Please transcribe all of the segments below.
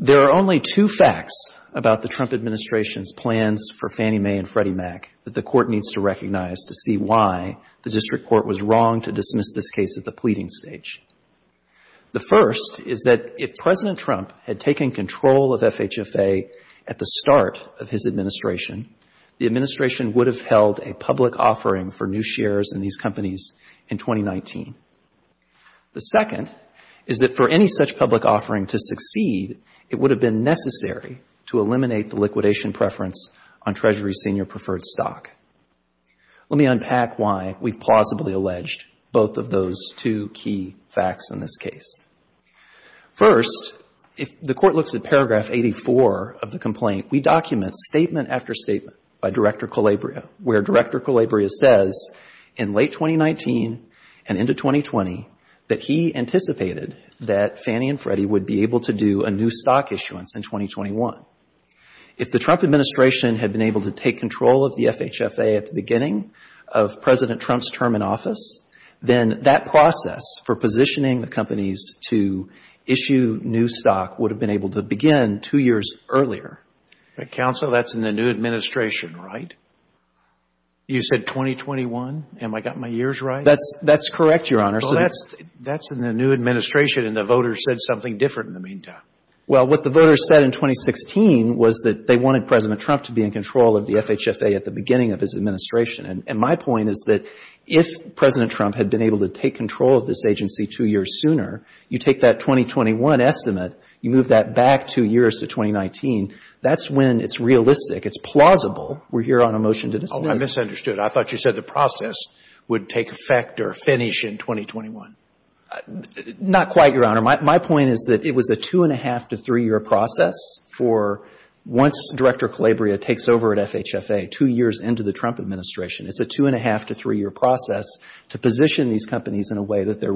There are only two facts about the Trump administration's plans for Fannie Mae and Freddie Mac that the Court needs to recognize to see why the District Court was wrong to dismiss this case at the pleading stage. The first is that if President Trump had taken control of FHFA at the start of his administration, the administration would have held a public offering for new properties. Indeed, it would have been necessary to eliminate the liquidation preference on Treasury senior preferred stock. Let me unpack why we've plausibly alleged both of those two key facts in this case. First, if the Court looks at paragraph 84 of the complaint, we document statement after statement by Director Calabria, where Director Calabria says in late 2019 and into 2020 that he anticipated that Fannie and Freddie would be able to do a new stock issuance in 2021. If the Trump administration had been able to take control of the FHFA at the beginning of President Trump's term in office, then that process for positioning the companies to issue new stock would have been able to begin two years earlier. Counsel, that's in the new administration, right? You said 2021? Have I got my years right? That's correct, Your Honor. That's in the new administration and the voters said something different in the meantime. Well, what the voters said in 2016 was that they wanted President Trump to be in control of the FHFA at the beginning of his administration. My point is that if President Trump had been able to take control of this agency two years sooner, you take that 2021 estimate, you move that back two years to 2019, that's when it's realistic, it's plausible. We're here on a motion to dismiss. Oh, I misunderstood. I thought you said the process would take effect or finish in 2021. Not quite, Your Honor. My point is that it was a two and a half to three year process for once Director Calabria takes over at FHFA two years into the Trump administration. It's a two and a half to three year process to position these companies in a way that they're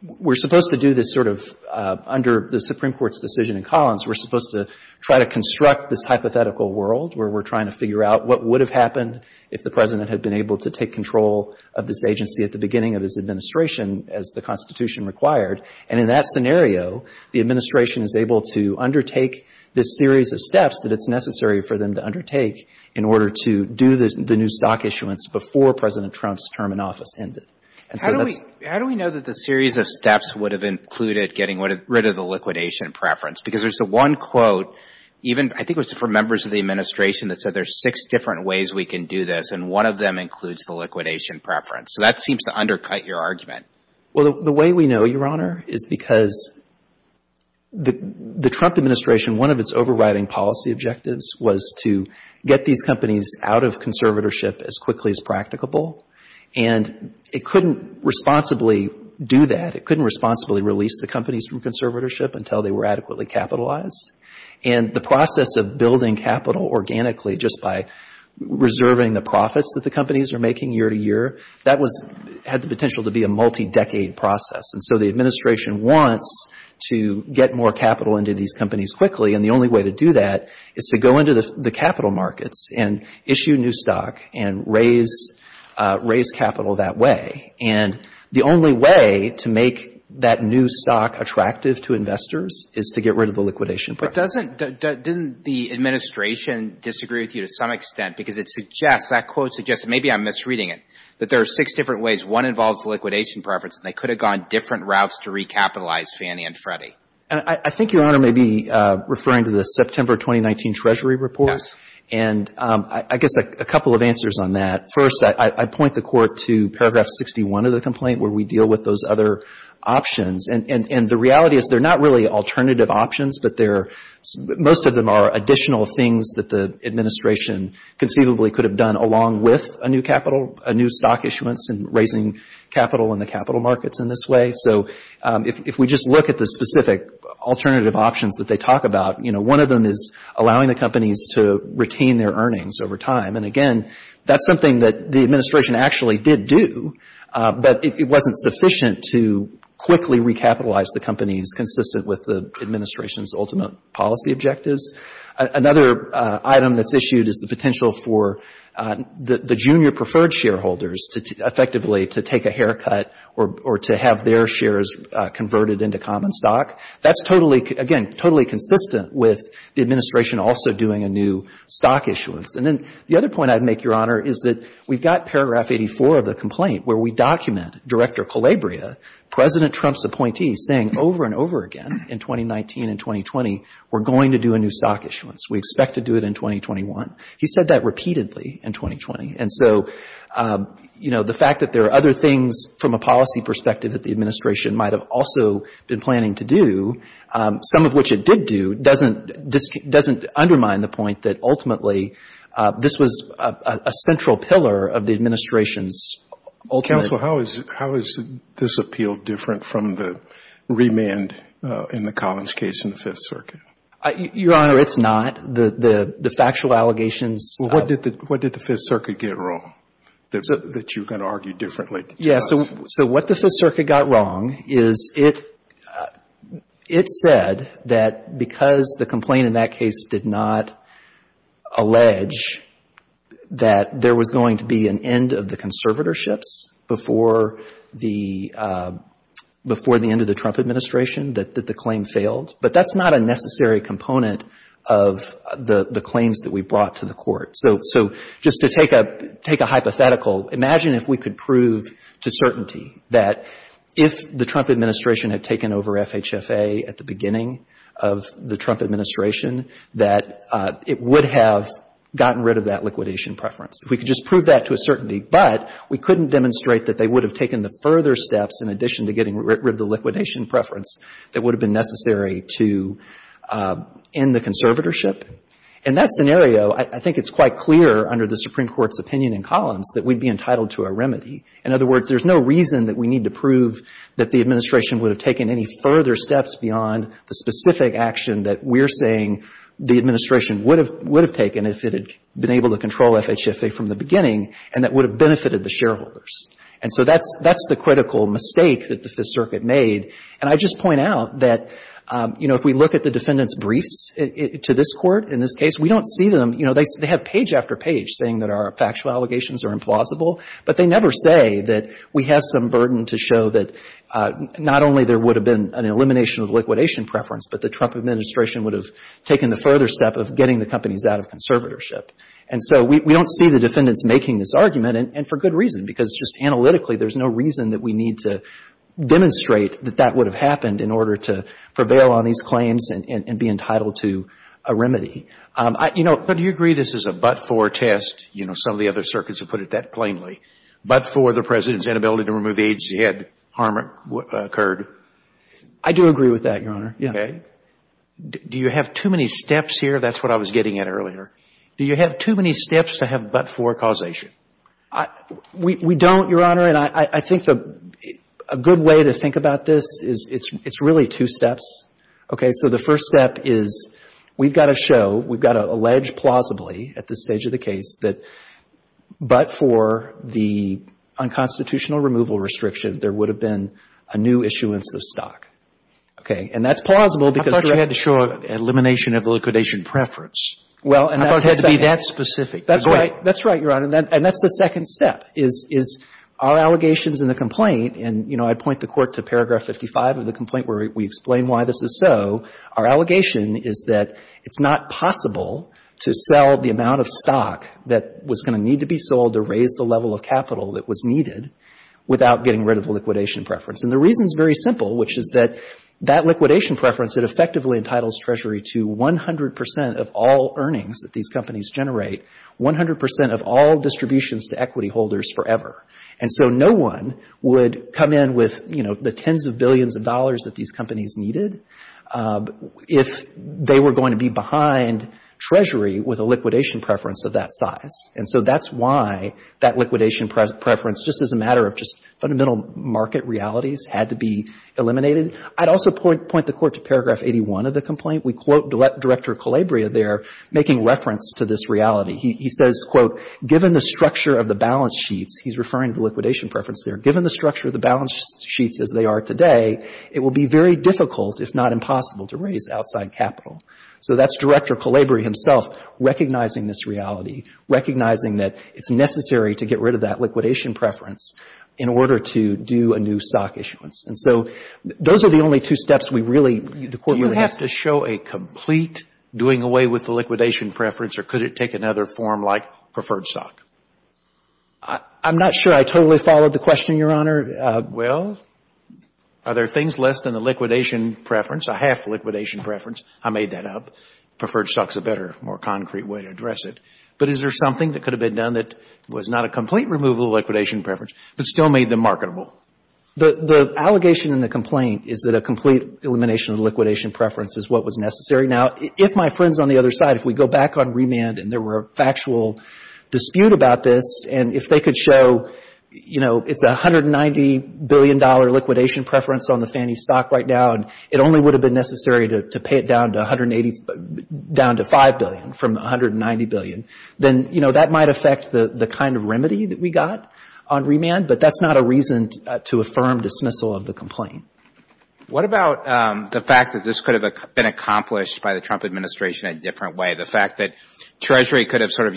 We're supposed to do this sort of, under the Supreme Court's decision in Collins, we're supposed to try to construct this hypothetical world where we're trying to figure out what would have happened if the President had been able to take control of this agency at the beginning of his administration as the Constitution required. In that scenario, the administration is able to undertake this series of steps that it's necessary for them to undertake in order to do the new stock issuance before President Trump's term in office ended. How do we know that the series of steps would have included getting rid of the liquidation preference? Because there's the one quote, even I think it was for members of the administration that said there's six different ways we can do this and one of them includes the liquidation preference. So that seems to undercut your argument. Well, the way we know, Your Honor, is because the Trump administration, one of its overriding policy objectives was to get these companies out of conservatorship as quickly as practicable and it couldn't responsibly do that. It couldn't responsibly release the companies from conservatorship until they were adequately capitalized. And the process of building capital organically just by reserving the profits that the companies are making year to year, that had the potential to be a multi-decade process. And so the administration wants to get more capital into these companies quickly and the only way to do that is to go into the capital markets and issue new raise capital that way. And the only way to make that new stock attractive to investors is to get rid of the liquidation preference. But doesn't, didn't the administration disagree with you to some extent because it suggests, that quote suggests, maybe I'm misreading it, that there are six different ways. One involves the liquidation preference and they could have gone different routes to recapitalize Fannie and Freddie. I think Your Honor may be referring to the September 2019 Treasury report and I guess a couple of answers on that. First, I point the court to paragraph 61 of the complaint where we deal with those other options. And the reality is they're not really alternative options but they're, most of them are additional things that the administration conceivably could have done along with a new capital, a new stock issuance and raising capital in the capital markets in this way. So if we just look at the specific alternative options that they talk about, you know, one of them is allowing the companies to retain their earnings over time. And again, that's something that the administration actually did do but it wasn't sufficient to quickly recapitalize the companies consistent with the administration's ultimate policy objectives. Another item that's issued is the potential for the junior preferred shareholders to effectively to take a haircut or to have their shares converted into common stock. That's totally, again, totally consistent with the administration also doing a new stock issuance. And then the other point I'd make, Your Honor, is that we've got paragraph 84 of the complaint where we document Director Calabria, President Trump's appointee, saying over and over again in 2019 and 2020, we're going to do a new stock issuance. We expect to do it in 2021. He said that repeatedly in 2020. And so, you know, the fact that there are other things from a policy perspective that the administration might have also been planning to do, some of which it did do, doesn't undermine the point that ultimately this was a central pillar of the administration's ultimate — Counsel, how is this appeal different from the remand in the Collins case in the Fifth Circuit? Your Honor, it's not. The factual allegations — Well, what did the Fifth Circuit get wrong that you can argue differently? Yeah. So what the Fifth Circuit got wrong is it said that because the complaint in that case did not allege that there was going to be an end of the conservatorships before the end of the Trump administration, that the claim failed. But that's not a necessary component of the claims that we brought to the Court. So just to take a hypothetical, imagine if we could prove to certainty that if the Trump administration had taken over FHFA at the beginning of the Trump administration, that it would have gotten rid of that liquidation preference. If we could just prove that to a certainty, but we couldn't demonstrate that they would have taken the further steps in addition to getting rid of the liquidation preference that would have been necessary to end the conservatorship. In that scenario, I think it's quite clear under the Supreme Court's opinion in Collins that we'd be entitled to a remedy. In other words, there's no reason that we need to prove that the administration would have taken any further steps beyond the specific action that we're saying the administration would have taken if it had been able to control FHFA from the beginning and that would have benefited the shareholders. And so that's the critical mistake that the Fifth Circuit made. And I'd just point out that, you know, if we look at the defendant's briefs to this Court in this case, we don't see them — you know, they have page after page saying that our factual allegations are implausible, but they never say that we have some burden to show that not only there would have been an elimination of liquidation preference, but the Trump administration would have taken the further step of getting the companies out of conservatorship. And so we don't see the defendants making this argument, and for good reason, because just analytically, there's no reason that we need to demonstrate that that would have happened in order to prevail on these claims and be entitled to a remedy. I — you know, but do you agree this is a but-for test? You know, some of the other circuits have put it that plainly. But-for the President's inability to remove the agency had harm occurred. I do agree with that, Your Honor. Okay. Do you have too many steps here? That's what I was getting at earlier. Do you have too many steps to have but-for causation? We don't, Your Honor, and I think a good way to think about this is it's really two steps. Okay? So the first step is we've got to show, we've got to allege plausibly at this stage of the case that but-for the unconstitutional removal restriction, there would have been a new issuance of stock. Okay? And that's plausible because I thought you had to show elimination of liquidation preference. Well, and that's the second I thought it had to be that specific. That's right. That's right, Your Honor. And that's the second step, is our allegations in the complaint, and, you know, I point the Court to paragraph 55 of the complaint where we explain why this is so, our allegation is that it's not possible to sell the amount of stock that was going to need to be sold to raise the level of capital that was needed without getting rid of liquidation preference. And the reason is very simple, which is that that liquidation preference, it effectively entitles Treasury to 100 percent of all earnings that these companies generate, 100 percent of all distributions to equity holders forever. And so no one would come in with, you know, the tens of billions of dollars that these companies needed if they were going to be behind Treasury with a liquidation preference of that size. And so that's why that liquidation preference, just as a matter of just fundamental market realities, had to be eliminated. I'd also point the Court to paragraph 81 of the complaint. We quote Director Calabria there making reference to this reality. He says, quote, given the structure of the balance sheets, he's referring to liquidation preference there, given the it will be very difficult, if not impossible, to raise outside capital. So that's Director Calabria himself recognizing this reality, recognizing that it's necessary to get rid of that liquidation preference in order to do a new stock issuance. And so those are the only two steps we really, the Court really has to do. Do you have to show a complete doing away with the liquidation preference, or could it take another form like preferred stock? I'm not sure I totally followed the question, Your Honor. Well, are there things less than the liquidation preference, a half liquidation preference? I made that up. Preferred stock is a better, more concrete way to address it. But is there something that could have been done that was not a complete removal of liquidation preference, but still made them marketable? The allegation in the complaint is that a complete elimination of liquidation preference is what was necessary. Now, if my friends on the other side, if we go back on remand and there were a factual dispute about this, and if they could show, you know, it's $190 billion liquidation preference on the Fannie stock right now, and it only would have been necessary to pay it down to 180, down to $5 billion from the $190 billion, then, you know, that might affect the kind of remedy that we got on remand. But that's not a reason to affirm dismissal of the complaint. What about the fact that this could have been accomplished by the Trump administration in a different way? The fact that Treasury could have sort of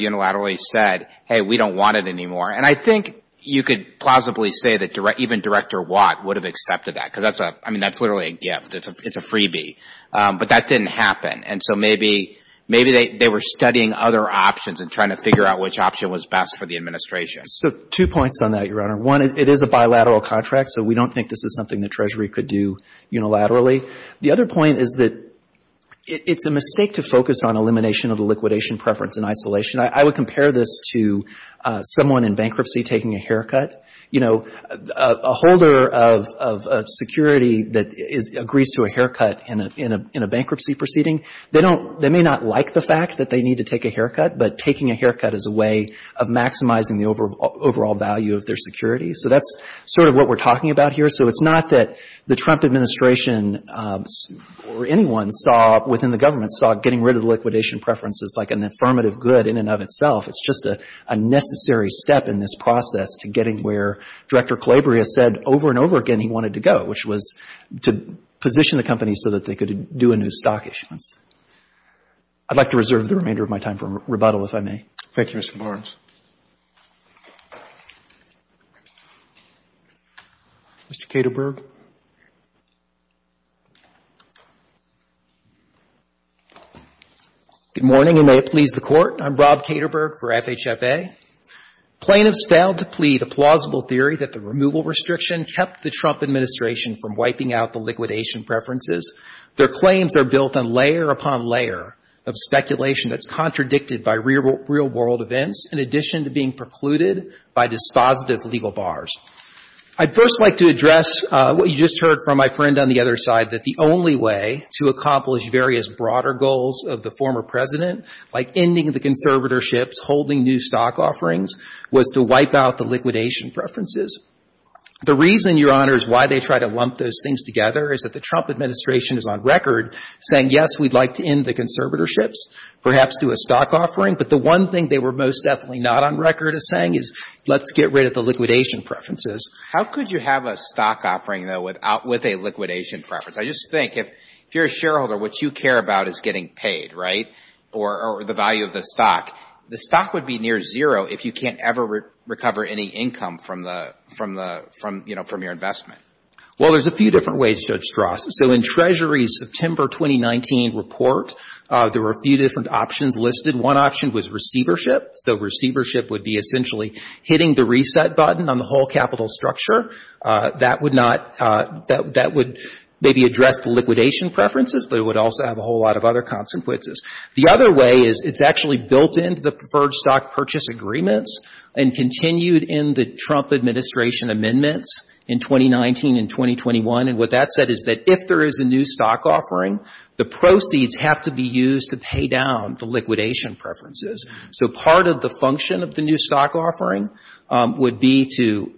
I think you could plausibly say that even Director Watt would have accepted that, because that's a, I mean, that's literally a gift. It's a freebie. But that didn't happen. And so maybe, maybe they were studying other options and trying to figure out which option was best for the administration. So two points on that, Your Honor. One, it is a bilateral contract, so we don't think this is something the Treasury could do unilaterally. The other point is that it's a mistake to focus on elimination of the liquidation preference in isolation. I would compare this to someone in bankruptcy taking a haircut. You know, a holder of security that agrees to a haircut in a bankruptcy proceeding, they don't they may not like the fact that they need to take a haircut, but taking a haircut is a way of maximizing the overall value of their security. So that's sort of what we're talking about here. So it's not that the Trump administration or anyone saw within the government getting rid of the liquidation preferences like an affirmative good in and of itself. It's just a necessary step in this process to getting where Director Calabria said over and over again he wanted to go, which was to position the company so that they could do a new stock issuance. I'd like to reserve the remainder of my time for rebuttal, if I may. Thank you, Mr. Barnes. Mr. Kederberg? Good morning, and may it please the Court. I'm Rob Kederberg for FHFA. Plaintiffs failed to plead a plausible theory that the removal restriction kept the Trump administration from wiping out the liquidation preferences. Their claims are built on layer upon layer of speculation that's contradicted by real world events, in addition to being precluded by dispositive legal bars. I'd first like to address what you just heard from my friend on the other side, that the only way to accomplish various broader goals of the former President, like ending the conservatorships, holding new stock offerings, was to wipe out the liquidation preferences. The reason, Your Honor, is why they try to lump those things together is that the Trump administration is on record saying, yes, we'd like to end the conservatorships, perhaps do a stock offering. But the one thing they were most definitely not on record as saying is, let's get rid of the liquidation preferences. How could you have a stock offering, though, with a liquidation preference? I just think if you're a shareholder, what you care about is getting paid, right, or the value of the stock. The stock would be near zero if you can't ever recover any income from the, you know, from your investment. Well, there's a few different ways, Judge Strasse. So in Treasury's September 2019 report, there were a few different options listed. One option was receivership. So receivership would be essentially hitting the reset button on the whole capital structure. That would not, that would maybe address the liquidation preferences, but it would also have a whole lot of other consequences. The other way is it's actually built into the preferred stock purchase agreements and continued in the Trump administration amendments in 2019 and 2021. And what that said is that if there is a new stock offering, the proceeds have to be used to pay down the liquidation preferences. So part of the function of the new stock offering would be to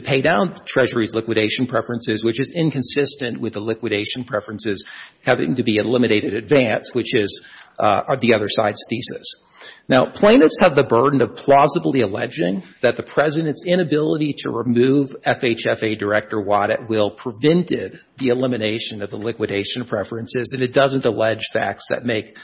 pay down Treasury's liquidation preferences, which is inconsistent with the liquidation preferences having to be eliminated in advance, which is the other side's thesis. Now, plaintiffs have the burden of plausibly alleging that the President's inability to remove FHFA Director Waddett will prevented the elimination of the facts that make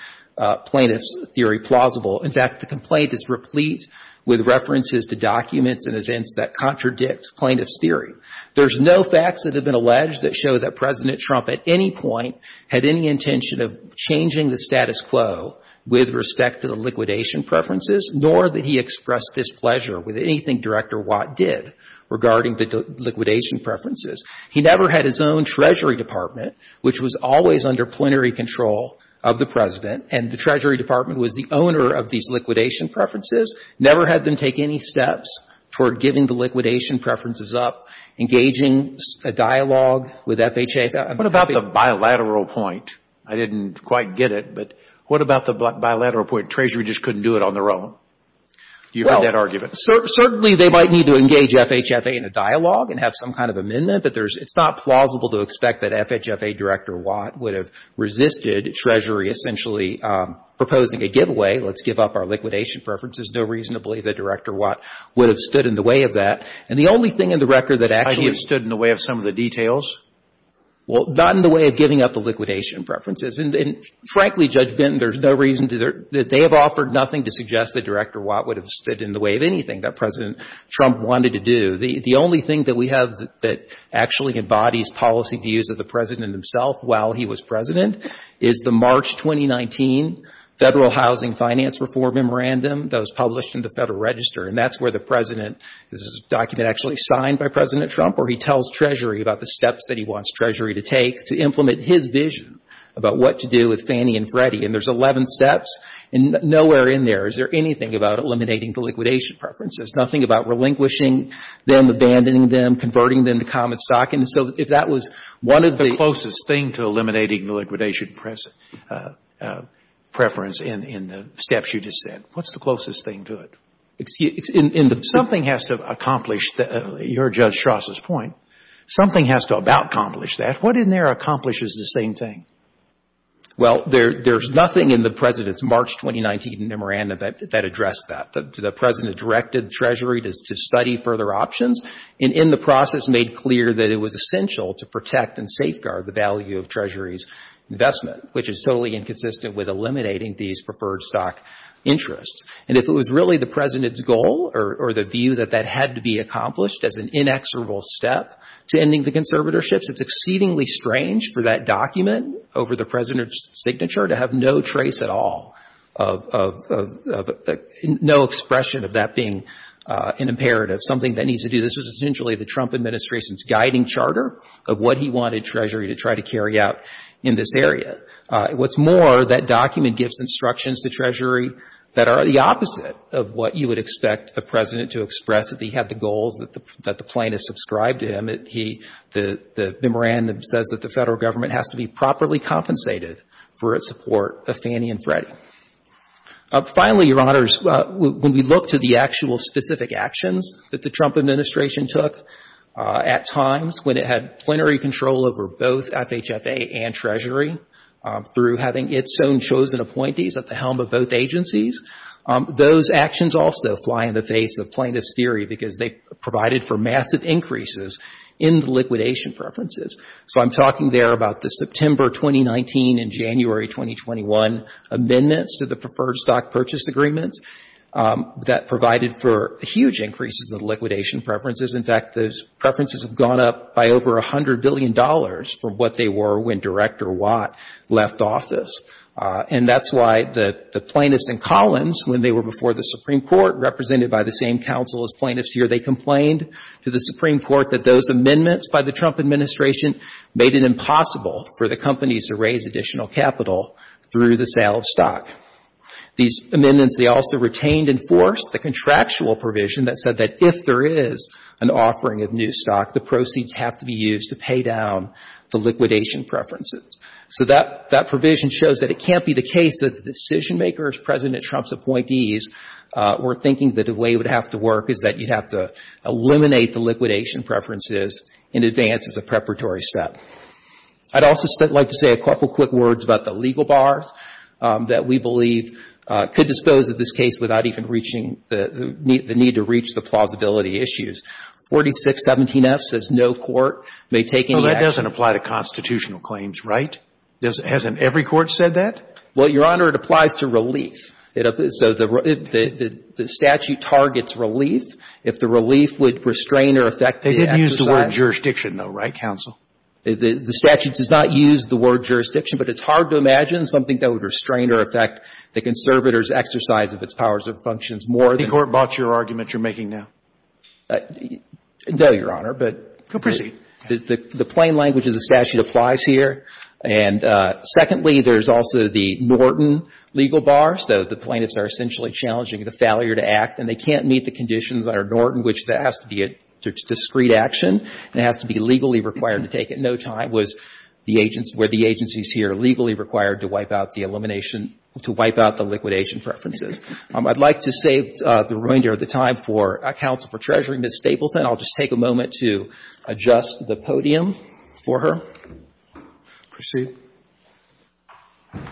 plaintiff's theory plausible. In fact, the complaint is replete with references to documents and events that contradict plaintiff's theory. There's no facts that have been alleged that show that President Trump at any point had any intention of changing the status quo with respect to the liquidation preferences, nor that he expressed displeasure with anything Director Waddett did regarding the liquidation preferences. He never had his own Treasury Department, which was always under plenary control of the President, and the Treasury Department was the owner of these liquidation preferences, never had them take any steps toward giving the liquidation preferences up, engaging a dialogue with FHFA. What about the bilateral point? I didn't quite get it, but what about the bilateral point, Treasury just couldn't do it on their own? Do you hear that argument? Certainly, they might need to engage FHFA in a dialogue and have some kind of dialogue, but it's not plausible to expect that FHFA Director Watt would have resisted Treasury essentially proposing a giveaway. Let's give up our liquidation preferences. No reason to believe that Director Watt would have stood in the way of that, and the only thing in the record that actually — He has stood in the way of some of the details? Well, not in the way of giving up the liquidation preferences, and frankly, Judge Benton, there's no reason that they have offered nothing to suggest that Director Watt would have stood in the way of anything that President Trump wanted to do. The only thing that we have that actually embodies policy views of the President himself while he was President is the March 2019 Federal Housing Finance Reform Memorandum that was published in the Federal Register, and that's where the President — this is a document actually signed by President Trump where he tells Treasury about the steps that he wants Treasury to take to implement his vision about what to do with Fannie and Freddie, and there's 11 steps and nowhere in there is there anything about eliminating the them, abandoning them, converting them to common stock, and so if that was one of the — What's the closest thing to eliminating the liquidation preference in the steps you just said? What's the closest thing to it? Excuse — in the — Something has to accomplish — you heard Judge Strauss' point. Something has to about accomplish that. What in there accomplishes the same thing? Well, there's nothing in the President's March 2019 memorandum that addressed that. The President directed Treasury to study further options and in the process made clear that it was essential to protect and safeguard the value of Treasury's investment, which is totally inconsistent with eliminating these preferred stock interests, and if it was really the President's goal or the view that that had to be accomplished as an inexorable step to ending the conservatorships, it's exceedingly strange for that document over the No expression of that being an imperative. Something that needs to do — this was essentially the Trump administration's guiding charter of what he wanted Treasury to try to carry out in this area. What's more, that document gives instructions to Treasury that are the opposite of what you would expect the President to express if he had the goals that the plaintiffs subscribed to him. He — the memorandum says that the federal government has to be properly compensated for its support of Fannie and Freddie. Finally, Your Honors, when we look to the actual specific actions that the Trump administration took at times when it had plenary control over both FHFA and Treasury through having its own chosen appointees at the helm of both agencies, those actions also fly in the face of plaintiffs' theory because they provided for massive increases in the liquidation preferences. So I'm talking there about the September 2019 and January 2021 amendments to the Preferred Stock Purchase Agreements that provided for huge increases in the liquidation preferences. In fact, those preferences have gone up by over $100 billion for what they were when Director Watt left office. And that's why the plaintiffs and Collins, when they were before the Supreme Court, represented by the same counsel as plaintiffs here, they complained to the Supreme Court that those amendments by the Trump administration made it impossible for the companies to raise additional capital through the sale of stock. These amendments, they also retained and forced the contractual provision that said that if there is an offering of new stock, the proceeds have to be used to pay down the liquidation preferences. So that — that provision shows that it can't be the case that the decision-makers, President Trump's appointees, were thinking that the way it would have to work is that you'd have to eliminate the liquidation preferences in advance as a preparatory step. I'd also like to say a couple quick words about the legal bars that we believe could dispose of this case without even reaching the — the need to reach the plausibility issues. 4617F says no court may take any action. No, that doesn't apply to constitutional claims, right? Hasn't every court said that? Well, Your Honor, it applies to relief. So the statute targets relief. If the statute does not restrain or affect the exercise of its powers and functions more than the — They didn't use the word jurisdiction, though, right, counsel? The statute does not use the word jurisdiction, but it's hard to imagine something that would restrain or affect the conservator's exercise of its powers and functions more than — The court bought your argument you're making now. No, Your Honor, but — Go proceed. The plain language of the statute applies here. And secondly, there's also the Norton legal bar. So the plaintiffs are essentially challenging the failure to discreet action. It has to be legally required to take it. No time was the agency — were the agencies here legally required to wipe out the elimination — to wipe out the liquidation preferences. I'd like to save the remainder of the time for counsel for Treasury, Ms. Stapleton. I'll just take a moment to adjust the podium for her. Proceed. Thank you very much.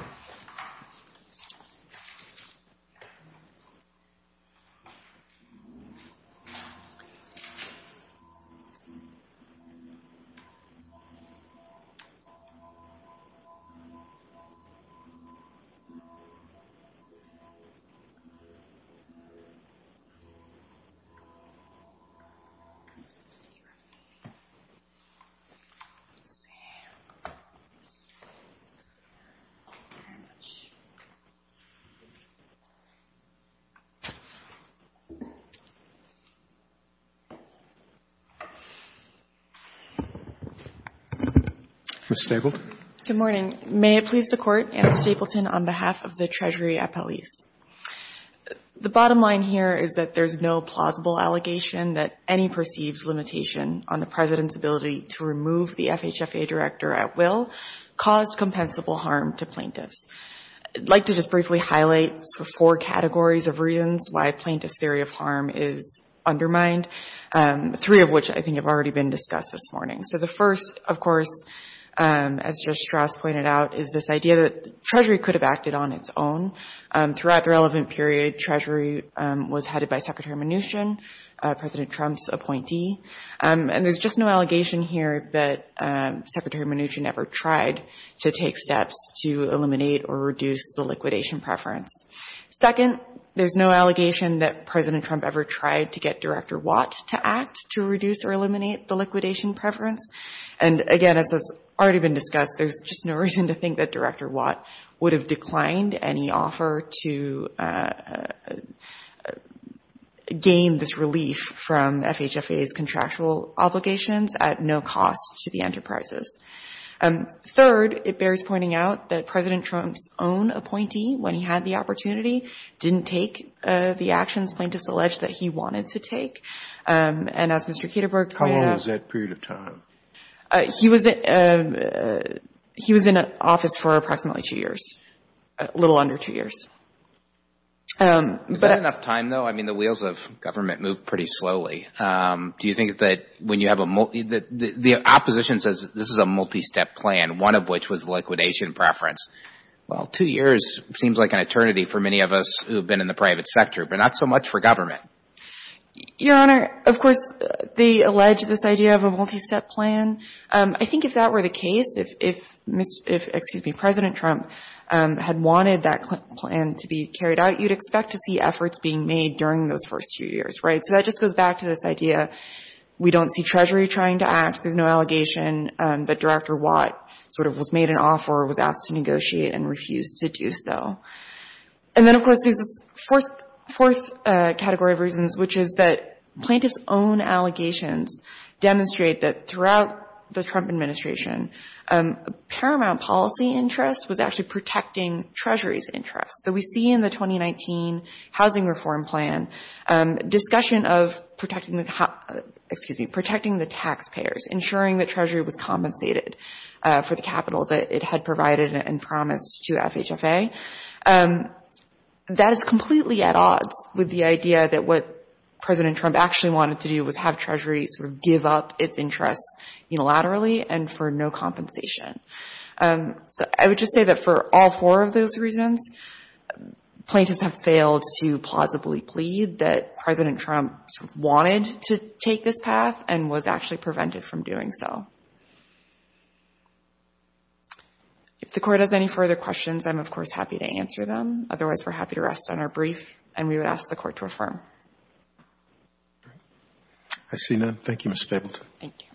Ms. Stapleton. Good morning. May it please the Court, Anna Stapleton on behalf of the Treasury appellees. The bottom line here is that there's no plausible allegation that any perceived limitation on the President's ability to remove the FHFA director at will caused compensable harm to plaintiffs. I'd like to just briefly highlight four categories of reasons why plaintiffs' theory of harm is undermined, three of which I think have already been discussed this morning. So the first, of course, as Judge Strauss pointed out, is this idea that Treasury could have acted on its own. Throughout the relevant period, Treasury was headed by Secretary Mnuchin, President Trump's appointee. And there's just no allegation here that Secretary Mnuchin ever tried to take steps to eliminate or reduce the liquidation preference. Second, there's no allegation that President Trump ever tried to get Director Watt to act to reduce or eliminate the liquidation preference. And again, as has already been discussed, there's just no reason to think that Director Watt would have declined any offer to gain this relief from FHFA's contractual obligations at no cost to the enterprises. Third, it bears pointing out that President Trump's own appointee, when he had the opportunity, didn't take the actions plaintiffs alleged that he wanted to take. And as Mr. Kederberg pointed out… How long was that period of time? He was in office for approximately two years, a little under two years. Is that enough time, though? I mean, the wheels of government move pretty slowly. Do you think that when you have a – the opposition says this is a multistep plan, one of which was liquidation preference. Well, two years seems like an eternity for many of us who have been in the private sector, but not so much for government. Your Honor, of course, they allege this idea of a multistep plan. I think if that were the case, if – excuse me – President Trump had wanted that plan to be carried out, you'd expect to see efforts being made during those first two years, right? So that just goes back to this idea we don't see Treasury trying to act. There's no allegation that Director Watt sort of was made an offer or was asked to negotiate and refused to do so. And then, of course, there's this fourth category of reasons, which is that plaintiffs' own allegations demonstrate that throughout the Trump administration, paramount policy interest was actually protecting Treasury's interest. So we see in the 2019 housing reform plan discussion of protecting the – excuse me – protecting the taxpayers, ensuring that Treasury was compensated for the capital that it had provided and promised to FHFA. That is completely at odds with the idea that what President Trump actually wanted to do was have Treasury sort of give up its interest unilaterally and for no compensation. So I would just say that for all four of those reasons, plaintiffs have failed to plausibly plead that President Trump sort of wanted to take this path and was actually prevented from doing so. If the Court has any further questions, I'm, of course, happy to answer them. Otherwise, we're happy to rest on our brief, and we would ask the Court to affirm. I see none. Thank you, Ms. Stapleton. Thank you.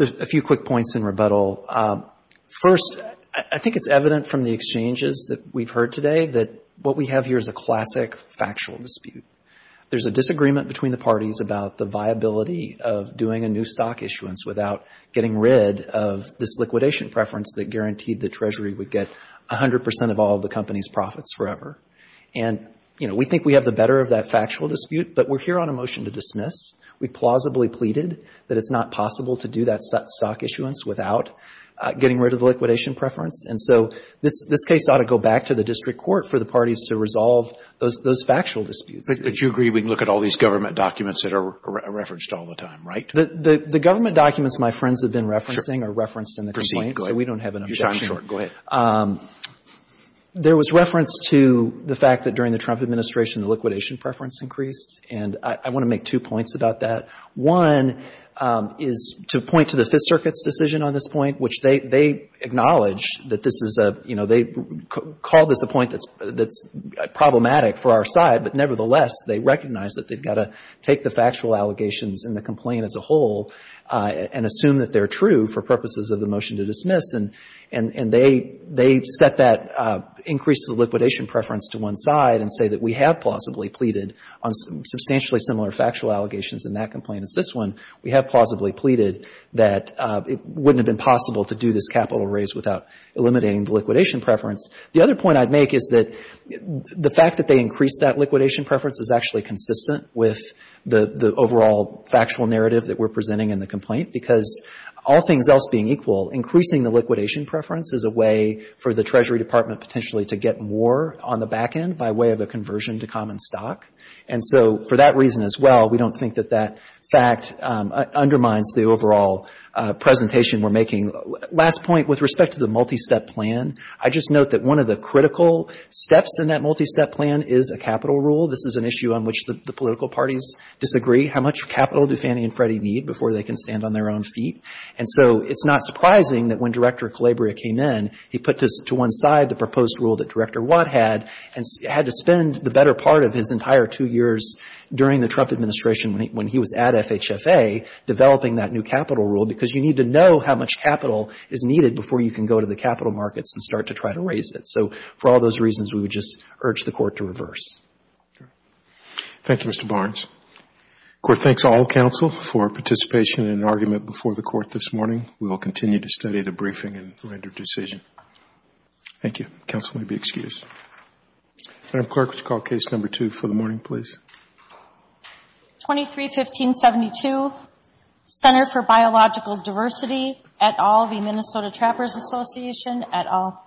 Just a few quick points in rebuttal. First, I think it's evident from the exchanges that we've heard today that what we have here is a classic factual dispute. There's a disagreement between the parties about the viability of doing a new stock issuance without getting rid of this liquidation preference that guaranteed that Treasury would get 100 percent of all of the company's profits forever. And, you know, we think we have the better of that factual dispute, but we're here on a motion to dismiss. We plausibly pleaded that it's not possible to do that stock issuance without getting rid of the liquidation preference. And so this case ought to go back to the district court for the parties to resolve those factual disputes. But you agree we can look at all these government documents that are referenced all the time, right? The government documents my friends have been referencing are referenced in the complaint, so we don't have an objection. Go ahead. There was reference to the fact that during the Trump administration the liquidation preference increased, and I want to make two points about that. One is to point to the Fifth Circuit's decision on this point, which they acknowledge that this is a, you know, they call this a point that's problematic for our side, but nevertheless they recognize that they've got to take the factual allegations and the complaint as a whole and assume that they're true for purposes of the motion to dismiss. And they set that increase to the liquidation preference to one side and say that we have plausibly pleaded on substantially similar factual allegations in that complaint as this one. We have plausibly pleaded that it wouldn't have been possible to do this capital raise without eliminating the liquidation preference. The other point I'd make is that the fact that they increased that liquidation preference is actually consistent with the overall factual narrative that we're presenting in the complaint, because all things else being equal, increasing the liquidation preference is a way for the Treasury Department potentially to get more on the back end by way of a conversion to common stock. And so for that reason as well, we don't think that that fact undermines the overall presentation we're making. Last point, with respect to the multi-step plan, I just note that one of the critical steps in that multi-step plan is a capital rule. This is an issue on which the political parties disagree. How much capital do Fannie and Freddie need before they can stand on their own feet? And so it's not surprising that when Director Calabria came in, he put to one side the proposed rule that Director Watt had and had to spend the better part of his entire two years during the Trump administration when he was at FHFA developing that new capital rule, because you need to know how much capital is needed before you can go to the capital markets and start to try to raise it. So for all those reasons, we would just urge the Court to reverse. Thank you, Mr. Barnes. The Court thanks all counsel for participation in an argument before the Court this morning. We will continue to study the briefing and render decision. Thank you. Counsel may be excused. Madam Clerk, would you call Case No. 2 for the morning, please? 23-1572, Center for Biological Diversity, et al. v. Minnesota Trappers Association, et al.